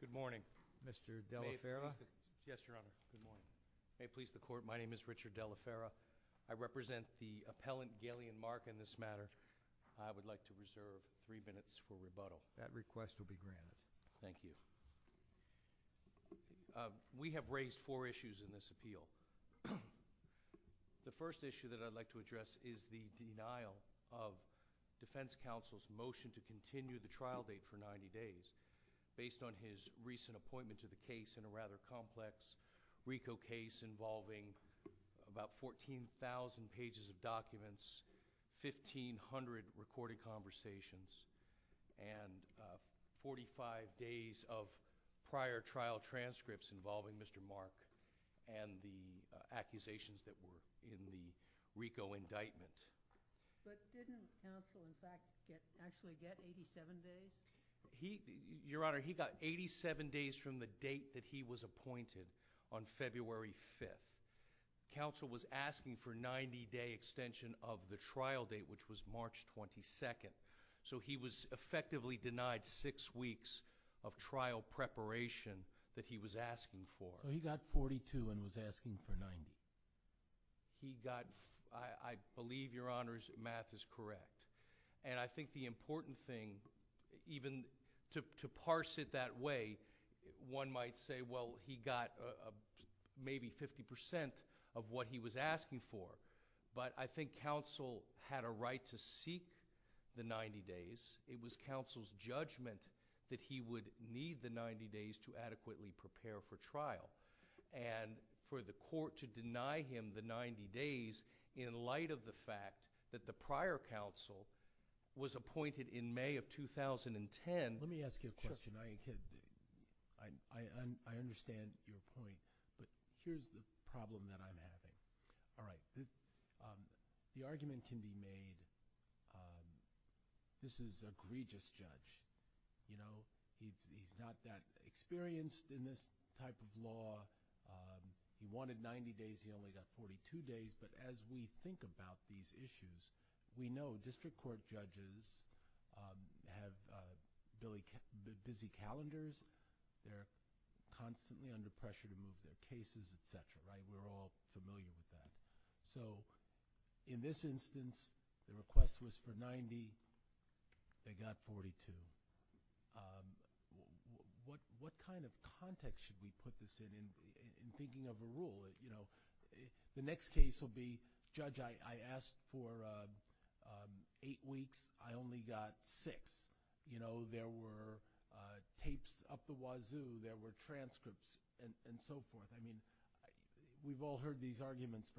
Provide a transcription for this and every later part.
Good morning, Mr. Delaferra. Yes, Your Honor. Good morning. May it please the Court, my name is Richard Delaferra. I represent the appellant, Galeon Mark, in this matter. I would like to reserve three minutes for rebuttal. That request will be granted. Thank you. We have raised four issues in this appeal. The first issue that I'd like to address is the defense counsel's motion to continue the trial date for 90 days based on his recent appointment to the case in a rather complex RICO case involving about 14,000 pages of documents, 1,500 recorded conversations, and 45 days of prior trial transcripts involving Mr. Mark and the accusations that were in the RICO indictment. But didn't counsel, in fact, actually get 87 days? Your Honor, he got 87 days from the date that he was appointed on February 5th. Counsel was asking for 90-day extension of the trial date, which was March 22nd. So he was effectively denied six weeks of trial preparation that he was asking for. So he got 42 and was asking for 90. He got... I believe, Your Honor, his math is correct. And I think the important thing, even to parse it that way, one might say, well, he got maybe 50 percent of what he was asking for. But I think counsel had a right to seek the 90 days of prior trial. And for the court to deny him the 90 days in light of the fact that the prior counsel was appointed in May of 2010... Let me ask you a question. I understand your point. But here's the problem that I'm having. All right. The argument can be made, this is a egregious judge. He's not that experienced in this type of law. He wanted 90 days. He only got 42 days. But as we think about these issues, we know district court judges have very busy calendars. They're constantly under pressure to move their cases, et cetera, right? We're all familiar with that. So in this instance, the request was for 90. They got 42. What kind of context should we put this in, in thinking of a rule? The next case will be, Judge, I asked for 8 weeks. I only got 6. There were tapes up the wazoo. There were transcripts and so forth. We've all heard these arguments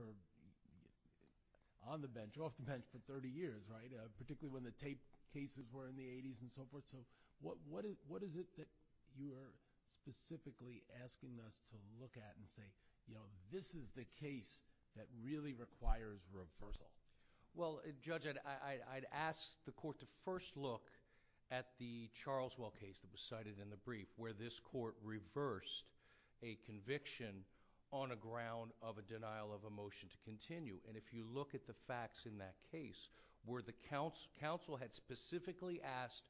on the bench, off the bench for 30 years, right? Particularly when the tape cases were in the 80s and so forth. So what is it that you are specifically asking us to look at and say, this is the case that really requires reversal? Well, Judge, I'd ask the court to first look at the Charleswell case that was cited in the brief, where this court reversed a conviction on a ground of a denial of a motion to continue. And if you look at the facts in that case, where the counsel had specifically asked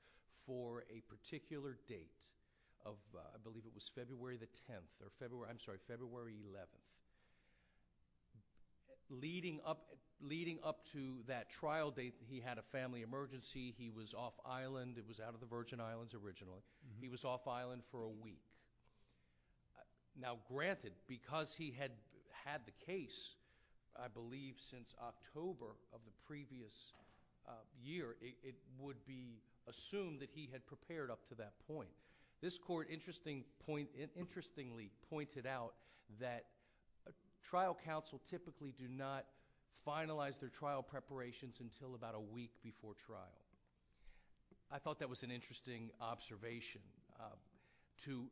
for a particular date of, I believe it was February the 10th or February, I'm sorry, February 11th. Leading up to that trial date, he had a family emergency. He was off Virgin Islands originally. He was off island for a week. Now granted, because he had the case, I believe since October of the previous year, it would be assumed that he had prepared up to that point. This court interestingly pointed out that trial counsel typically do not finalize their trial preparations until about a week before trial. I thought that was an interesting observation to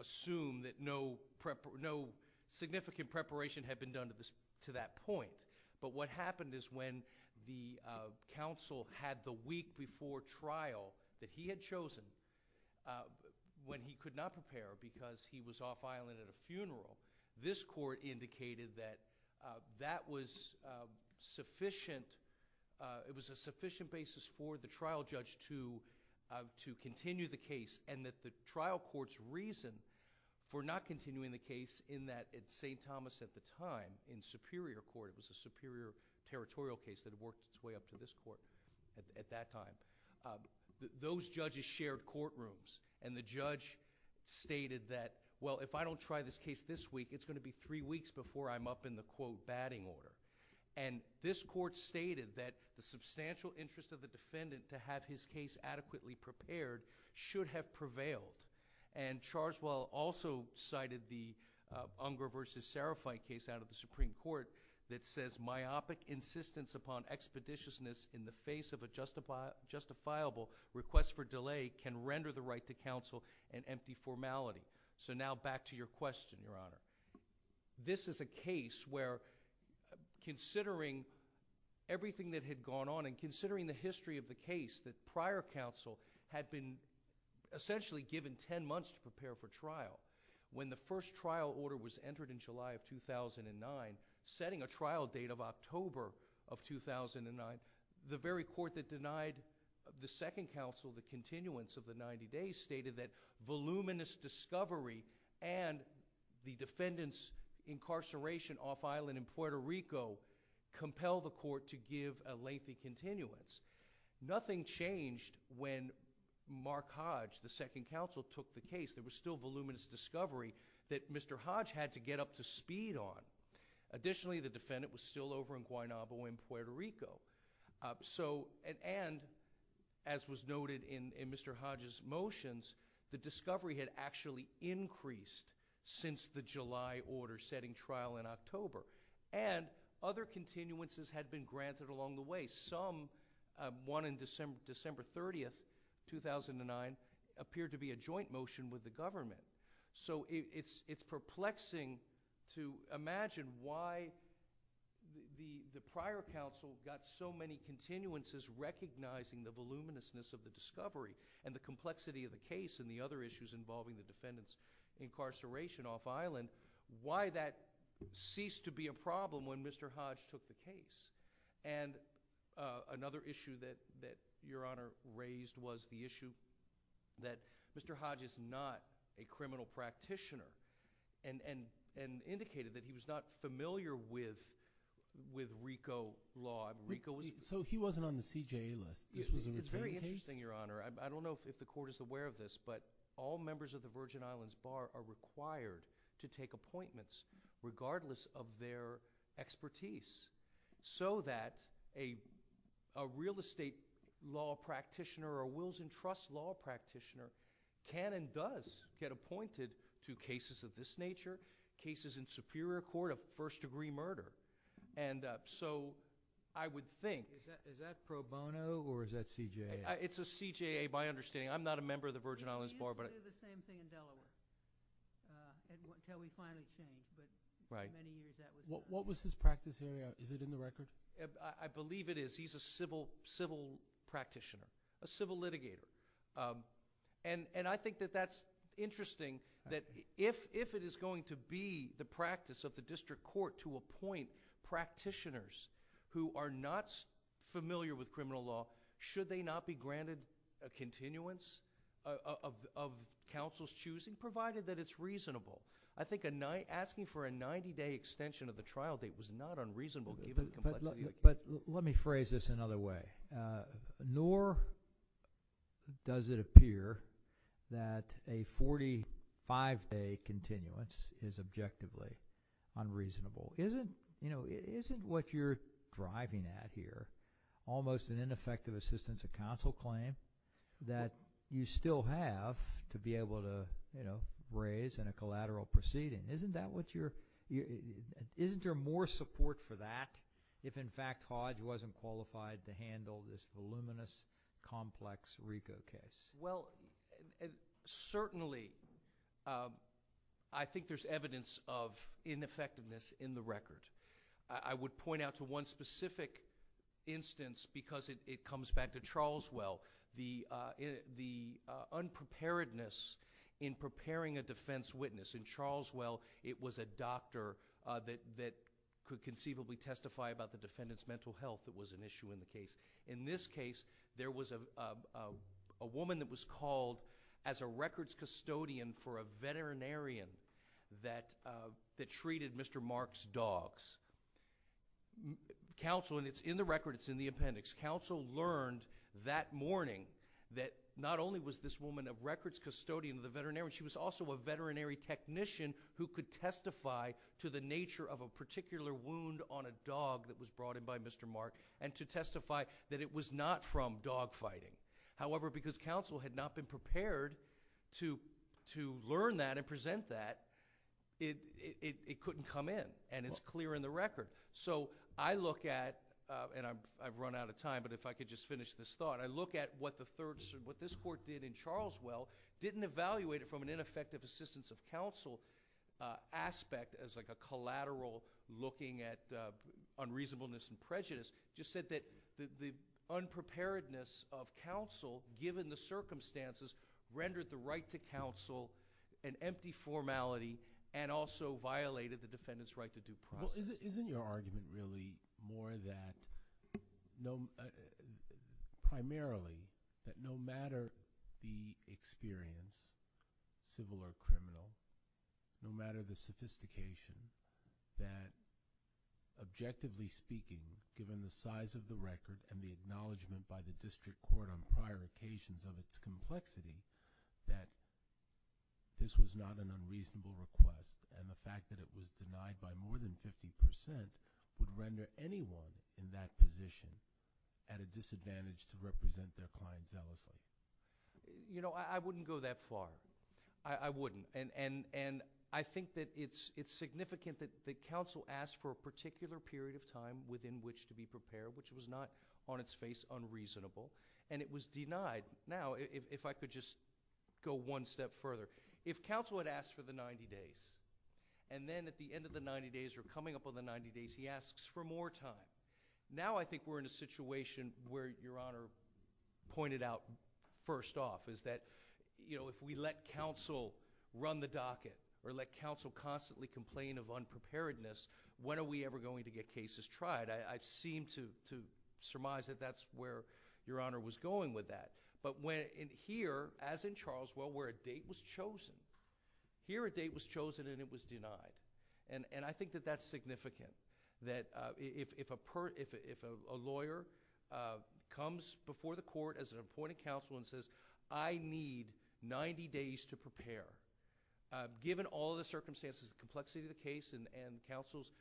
assume that no significant preparation had been done to that point. But what happened is when the counsel had the week before trial that he had chosen, when he could not prepare because he was off island at a funeral, this court indicated that that was sufficient... it was a sufficient basis for the trial judge to continue the case and that the trial court's reason for not continuing the case in that at St. Thomas at the time, in Superior Court, it was a superior territorial case that worked its way up to this court at that time, those judges shared courtrooms. And the judge stated that, well, if I don't try this case this week, it's going to be three weeks before I'm up in the, quote, batting order. And this court stated that the substantial interest of the defendant to have his case adequately prepared should have prevailed. And Charswell also cited the Unger v. Serafite case out of the Supreme Court that says myopic insistence upon expeditiousness in the face of a justifiable request for delay can render the right to continue. So now back to your question, Your Honor. This is a case where considering everything that had gone on and considering the history of the case, the prior counsel had been essentially given ten months to prepare for trial. When the first trial order was entered in July of 2009, setting a trial date of October of 2009, the very court that denied the second counsel the continuance of the 90 days stated that voluminous discovery and the defendant's incarceration off-island in Puerto Rico compelled the court to give a lengthy continuance. Nothing changed when Mark Hodge, the second counsel, took the case. There was still voluminous discovery that Mr. Hodge had to get up to speed on. Additionally, the defendant was still over in Guaynabo in Puerto Rico. And as was noted in Mr. Hodge's motions, the discovery had actually increased since the July order setting trial in October. And other continuances had been granted along the way. Some, one on December 30, 2009, appeared to be a joint motion with the government. So it's perplexing to imagine why the prior counsel got so many continuances recognizing the voluminousness of the discovery and the complexity of the case and the other issues involving the defendant's incarceration off-island, why that ceased to be a problem when Mr. Hodge took the case. And another issue that Your Honor raised was the issue that Mr. Hodge is not a criminal practitioner and indicated that he was not familiar with Rico law. Rico was... So he wasn't on the CJA list. This was a retained case? It's very interesting, Your Honor. I don't know if the court is aware of this, but all members of the Virgin Islands Bar are required to take appointments regardless of their expertise so that a real estate law practitioner or a wills and trusts law practitioner can and does get appointed to cases of this nature, cases in superior court of first-degree murder. And so I would think... Is that pro bono or is that CJA? It's a CJA by understanding. I'm not a member of the Virgin Islands Bar, but... We used to do the same thing in Delaware until we finally changed. Right. What was his practice here? Is it in the record? I believe it is. He's a civil practitioner, a civil litigator. And I think that that's interesting that if it is going to be the practice of the district court to appoint practitioners who are not familiar with criminal law, should they not be granted a continuance of counsel's choosing provided that it's reasonable? I think asking for a 90-day extension of the trial date was not unreasonable given the complexity... But let me phrase this another way. Nor does it appear that a 45-day continuance is objectively unreasonable. Isn't what you're driving at here almost an ineffective assistance of counsel claim that you still have to be able to raise in a collateral proceeding? Isn't there more support for that if, in fact, Hodge wasn't qualified to handle this voluminous, complex RICO case? Well, certainly, I think there's evidence of ineffectiveness in the record. I would point out to one specific instance because it comes back to Charleswell, the unpreparedness in preparing a defense witness. In Charleswell, it was a doctor that could conceivably testify about the defendant's mental health that was an issue in the case. In this case, there was a woman that was called as a records custodian for a veterinarian that treated Mr. Mark's dogs. Counsel—and it's in the record, it's in the appendix— counsel learned that morning that not only was this woman a records custodian of the veterinarian, she was also a veterinary technician who could testify to the nature of a particular wound on a dog that was brought in by Mr. Mark and to testify that it was not from dogfighting. However, because counsel had not been prepared to learn that and present that, it couldn't come in, and it's clear in the record. So I look at—and I've run out of time, but if I could just finish this thought—I look at what this Court did in Charleswell, didn't evaluate it from an ineffective assistance of counsel aspect as like a collateral looking at unreasonableness and prejudice, just said that the unpreparedness of counsel, given the circumstances, rendered the right to counsel an empty formality and also violated the defendant's right to due process. Isn't your argument really more that—primarily that no matter the experience, civil or criminal, no matter the sophistication, that objectively speaking, given the size of the record and the acknowledgment by the district court on prior occasions of its complexity, that this was not an unreasonable request and the fact that it was denied by more than 50 percent would render anyone in that position at a disadvantage to represent their client zealously? You know, I wouldn't go that far. I wouldn't, and I think that it's significant that counsel asked for a particular period of time within which to be prepared, which was not on its face unreasonable, and it was denied. Now, if I could just go one step further, if counsel had asked for the 90 days and then at the end of the 90 days or coming up on the 90 days, he asks for more time, now I think we're in a situation where, Your Honor pointed out first off, is that, you know, if we let counsel run the docket or let counsel constantly complain of unpreparedness, when are we ever going to get cases tried? I seem to surmise that that's where Your Honor was going with that, but here, as in Charlesville, where a date was chosen, here a date was chosen and it was denied, and I think that that's significant, that if a lawyer comes before the court as an appointed counsel and says, I need 90 days to prepare, given all the circumstances, the complexity of the case, and counsel's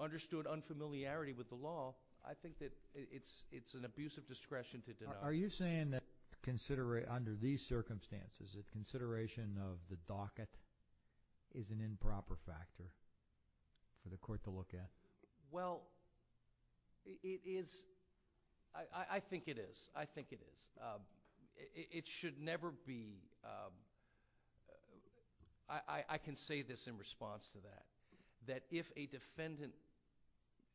understood unfamiliarity with the law, I think that it's an abusive discretion to deny. Are you saying that under these circumstances, that consideration of the docket is an improper factor for the court to look at? Well, it is... I think it is. I think it is. It should never be... I can say this in response to that, that if a defendant,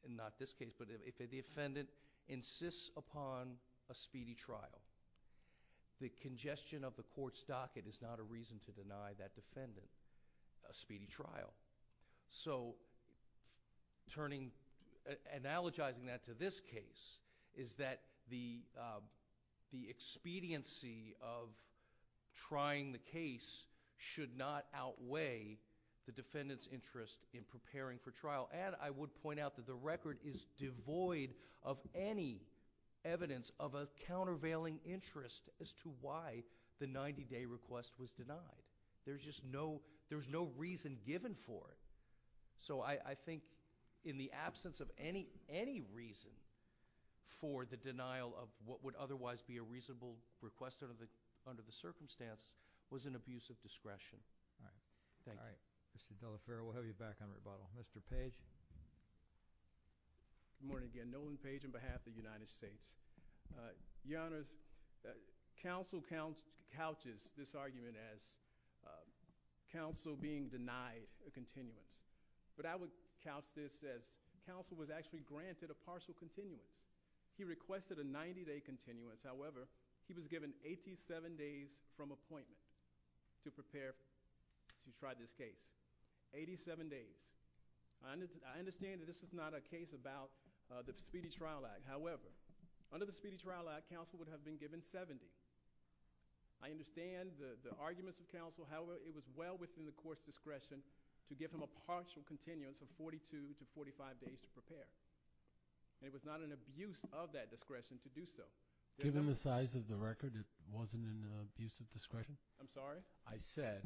not this case, but if a defendant insists upon a speedy trial, the congestion of the court's time, so turning... analogizing that to this case, is that the expediency of trying the case should not outweigh the defendant's interest in preparing for trial, and I would point out that the record is devoid of any evidence of a countervailing interest as to why the 90-day request was denied. There's just no... there's no reason given for it. So, I think in the absence of any reason for the denial of what would otherwise be a reasonable request under the circumstance was an abusive discretion. All right. Thank you. All right. Mr. Delaferro, we'll have you back on rebuttal. Mr. Page? Good morning again. Nolan Page on behalf of the United States. Your Honor, counsel couches this argument as counsel being denied a continuance, but I would couch this as counsel was actually granted a partial continuance. He requested a 90-day continuance. However, he was given 87 days from appointment to prepare to try this case. Eighty-seven days. I understand that this is not a case about the Speedy Trial Act. However, under the Speedy Trial Act, counsel would have been given 70. I understand the arguments of counsel. However, it was well within the court's discretion to give him a partial continuance of 42 to 45 days to prepare. It was not an abuse of that discretion to do so. Given the size of the record, it wasn't an abusive discretion? I'm sorry? I said,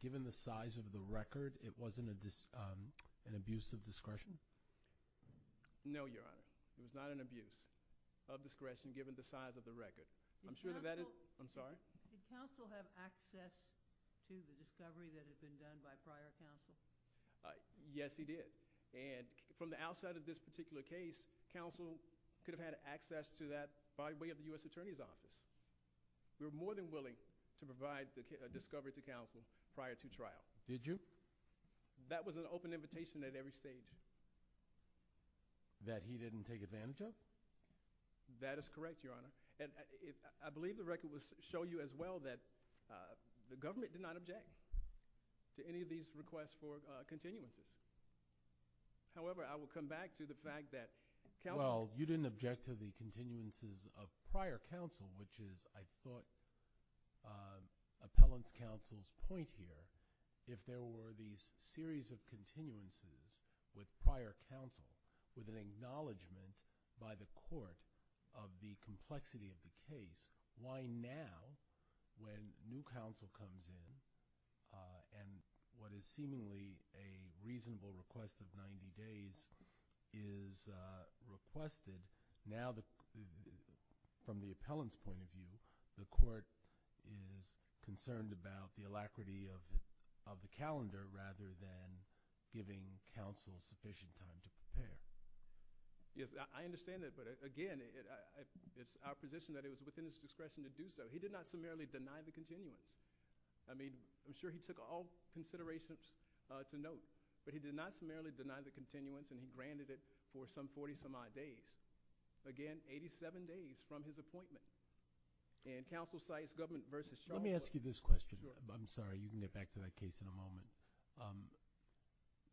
given the size of the record, it wasn't an abusive discretion? No, Your Honor. It was not an abuse of discretion given the size of the record. I'm sure that that is... I'm sorry? Did counsel have access to the discovery that had been done by prior counsel? Yes, he did. From the outside of this particular case, counsel could have had access to that by way of the U.S. Attorney's Office. We were more than willing to provide a discovery to counsel prior to trial. Did you? That was an open invitation at every stage. That he didn't take advantage of? That is correct, Your Honor. I believe the record will show you as well that the government did not object to any of these requests for continuances. However, I will come back to the fact that counsel... Well, you didn't object to the continuances of prior counsel, which is, I thought, appellant's counsel's point here. If there were these series of continuances with prior counsel with an acknowledgement by the court of the complexity of the case, why now when new counsel comes in and what is seemingly a reasonable request of 90 days is requested, now from the appellant's point of view, the court is concerned about the alacrity of the calendar rather than giving counsel sufficient time to prepare? Yes, I understand that, but again, it's our position that it was within his discretion to do so. He did not summarily deny the continuance. I mean, I'm sure he took all considerations to note, but he did not summarily deny the continuance and he granted it for some 40 some odd days, again, 87 days from his appointment. And counsel cites government versus... Let me ask you this question. I'm sorry. You can get back to that case in a moment.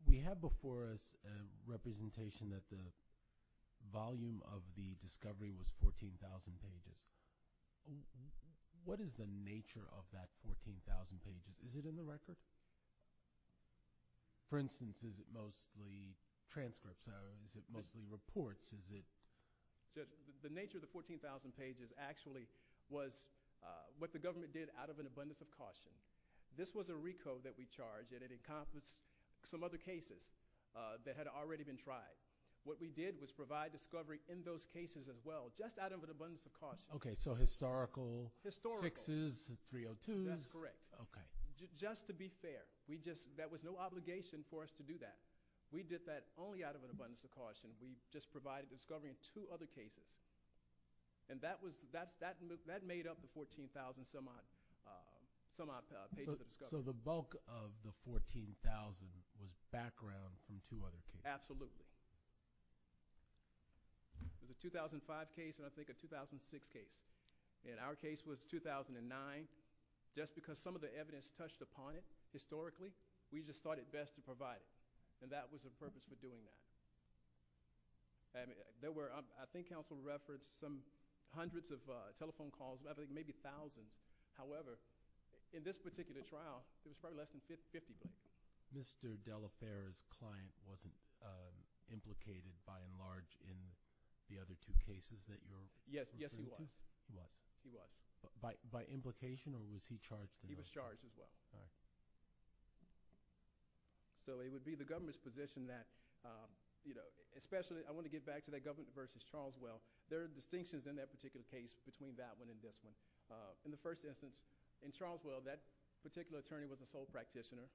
We have before us a representation that the volume of the discovery was 14,000 pages. What is the nature of that 14,000 pages? Is it in the record? For instance, is it mostly transcripts or is it mostly reports? The nature of the 14,000 pages actually was what the government did out of an abundance of caution. This was a recode that we charged and it encompassed some other cases that had already been tried. What we did was provide discovery in those cases as well, just out of an abundance of caution. Okay, so historical... Historical.... sixes, 302s. That's correct. Okay. Just to be fair, that was no obligation for us to do that. We did that only out of an abundance of caution. We just provided discovery in two other cases. That made up the 14,000-some-odd pages of discovery. So the bulk of the 14,000 was background from two other cases? Absolutely. There was a 2005 case and I think a 2006 case. Our case was 2009. Just because some of the evidence touched upon it historically, we just thought it best to provide it. And that was the purpose for doing that. I think counsel referenced some hundreds of telephone calls, I think maybe thousands. However, in this particular trial, there was probably less than 50 of them. Mr. De La Pera's client wasn't implicated by and large in the other two cases that you're referring to? Yes, he was. He was. He was. By implication or was he charged? He was charged as well. Okay. So it would be the government's position that, you know, especially I want to get back to that government versus Charleswell. There are distinctions in that particular case between that one and this one. In the first instance, in Charleswell, that particular attorney was a sole practitioner.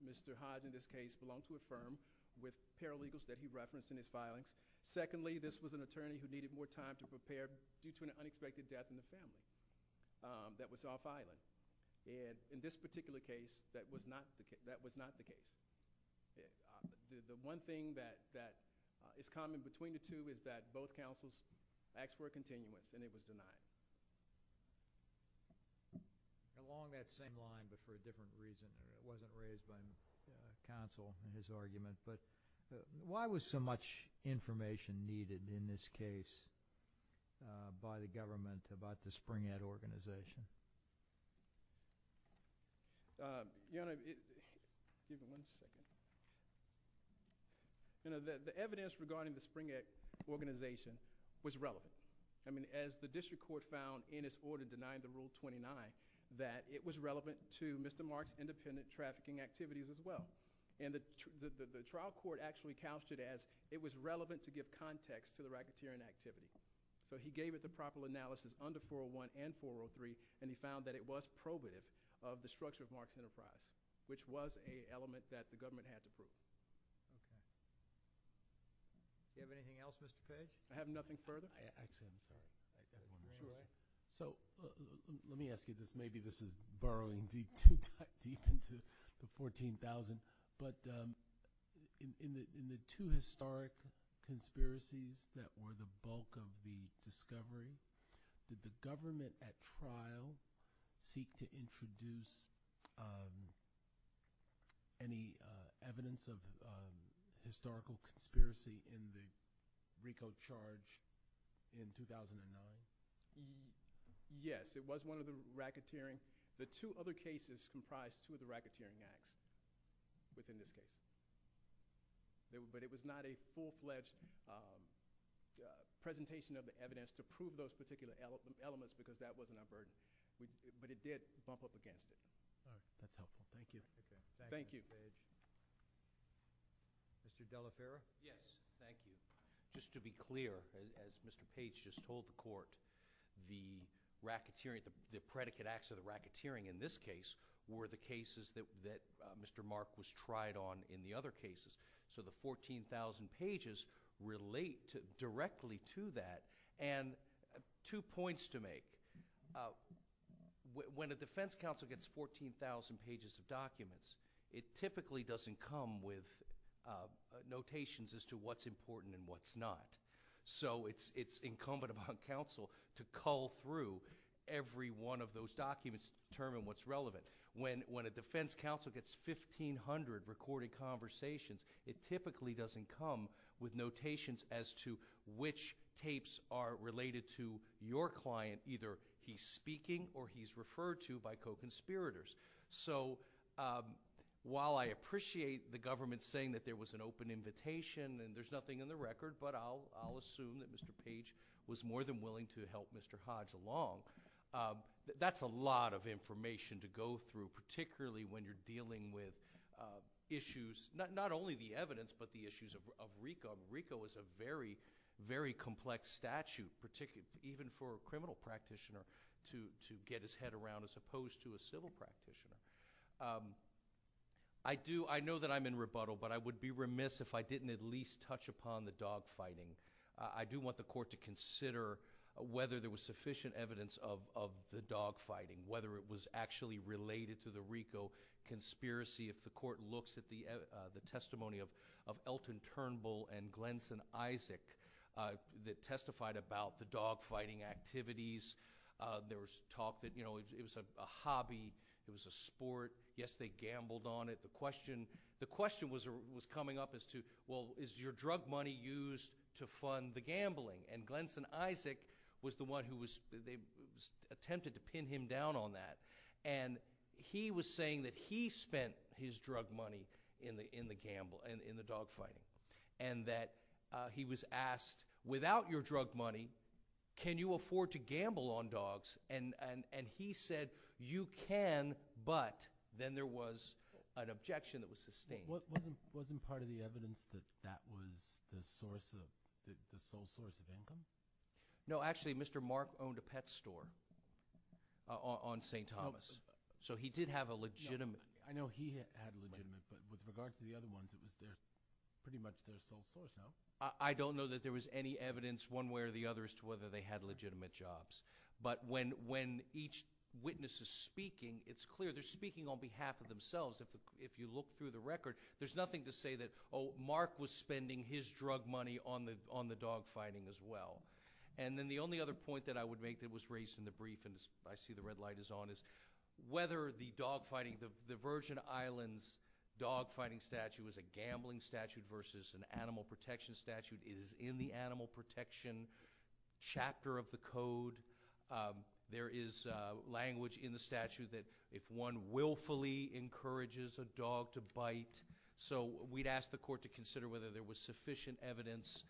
Mr. Hodge, in this case, belonged to a firm with paralegals that he referenced in his filing. Secondly, this was an attorney who needed more time to prepare due to an unexpected death in the family that was off-island. And in this particular case, that was not the case. The one thing that is common between the two is that both counsels asked for a continuance and it was denied. Along that same line but for a different reason. It wasn't raised by counsel in his argument. But why was so much information needed in this case by the government about the Spring Act organization? Excuse me one second. You know, the evidence regarding the Spring Act organization was relevant. I mean, as the district court found in its order denying the Rule 29, that it was relevant to Mr. Mark's independent trafficking activities as well. And the trial court actually couched it as it was relevant to give context to the racketeering activity. So he gave it the proper analysis under 401 and 403 and he found that it was probative of the structure of Mark's enterprise, which was an element that the government had to prove. Do you have anything else, Mr. Fay? I have nothing further. So let me ask you this. Maybe this is burrowing deep into 14,000. But in the two historic conspiracies that were the bulk of the discovery, did the government at trial seek to introduce any evidence of historical conspiracy in the RICO charge in 2009? Yes. It was one of the racketeering. The two other cases comprised two of the racketeering acts within this case. But it was not a full-fledged presentation of the evidence to prove those particular elements because that wasn't our burden. But it did bump up against it. All right. That's helpful. Thank you. Thank you. Mr. Della Fera? Yes. Thank you. Just to be clear, as Mr. Page just told the Court, the predicate acts of the racketeering in this case were the cases that Mr. Mark was tried on in the other cases. So the 14,000 pages relate directly to that. And two points to make. When a defense counsel gets 14,000 pages of documents, it typically doesn't come with notations on what's relevant and what's not. So it's incumbent upon counsel to cull through every one of those documents to determine what's relevant. When a defense counsel gets 1,500 recorded conversations, it typically doesn't come with notations as to which tapes are related to your client. Either he's speaking or he's referred to by co-conspirators. So while I appreciate the government saying that there was an open invitation and there's nothing in the record, but I'll assume that Mr. Page was more than willing to help Mr. Hodge along, that's a lot of information to go through, particularly when you're dealing with issues, not only the evidence, but the issues of RICO. RICO is a very, very complex statute, even for a criminal practitioner to get his head around, as opposed to a civil practitioner. I know that I'm in rebuttal, but I would be remiss if I didn't at least touch upon the dogfighting. I do want the Court to consider whether there was sufficient evidence of the dogfighting, whether it was actually related to the RICO conspiracy. If the Court looks at the testimony of Elton Turnbull and Glennson Isaac that testified about the dogfighting activities, there was talk that it was a hobby, it was a sport, yes, they gambled on it. The question was coming up as to, well, is your drug money used to fund the gambling? And Glennson Isaac was the one who was attempted to pin him down on that. And he was saying that he spent his drug money in the dogfighting and that he was asked, without your drug money, can you afford to gamble on dogs? And he said, you can, but then there was an objection that was sustained. Wasn't part of the evidence that that was the sole source of income? No, actually, Mr. Mark owned a pet store on St. Thomas, so he did have a legitimate I know he had a legitimate, but with regard to the other ones, it was pretty much their sole source, no? I don't know that there was any evidence one way or the other as to whether they had And when each witness is speaking, it's clear they're speaking on behalf of themselves. If you look through the record, there's nothing to say that, oh, Mark was spending his drug money on the dogfighting as well. And then the only other point that I would make that was raised in the brief, and I see the red light is on, is whether the dogfighting, the Virgin Islands dogfighting statute was a gambling statute versus an animal protection statute. It is in the animal protection chapter of the code. There is language in the statute that if one willfully encourages a dog to bite, so we'd ask the court to consider whether there was sufficient evidence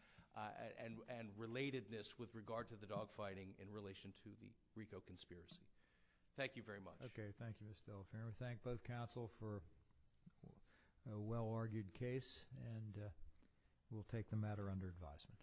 and relatedness with regard to the dogfighting in relation to the RICO conspiracy. Thank you very much. Okay. Thank you, Mr. Bill. I thank both counsel for a well-argued case, and we'll take the matter under advisement.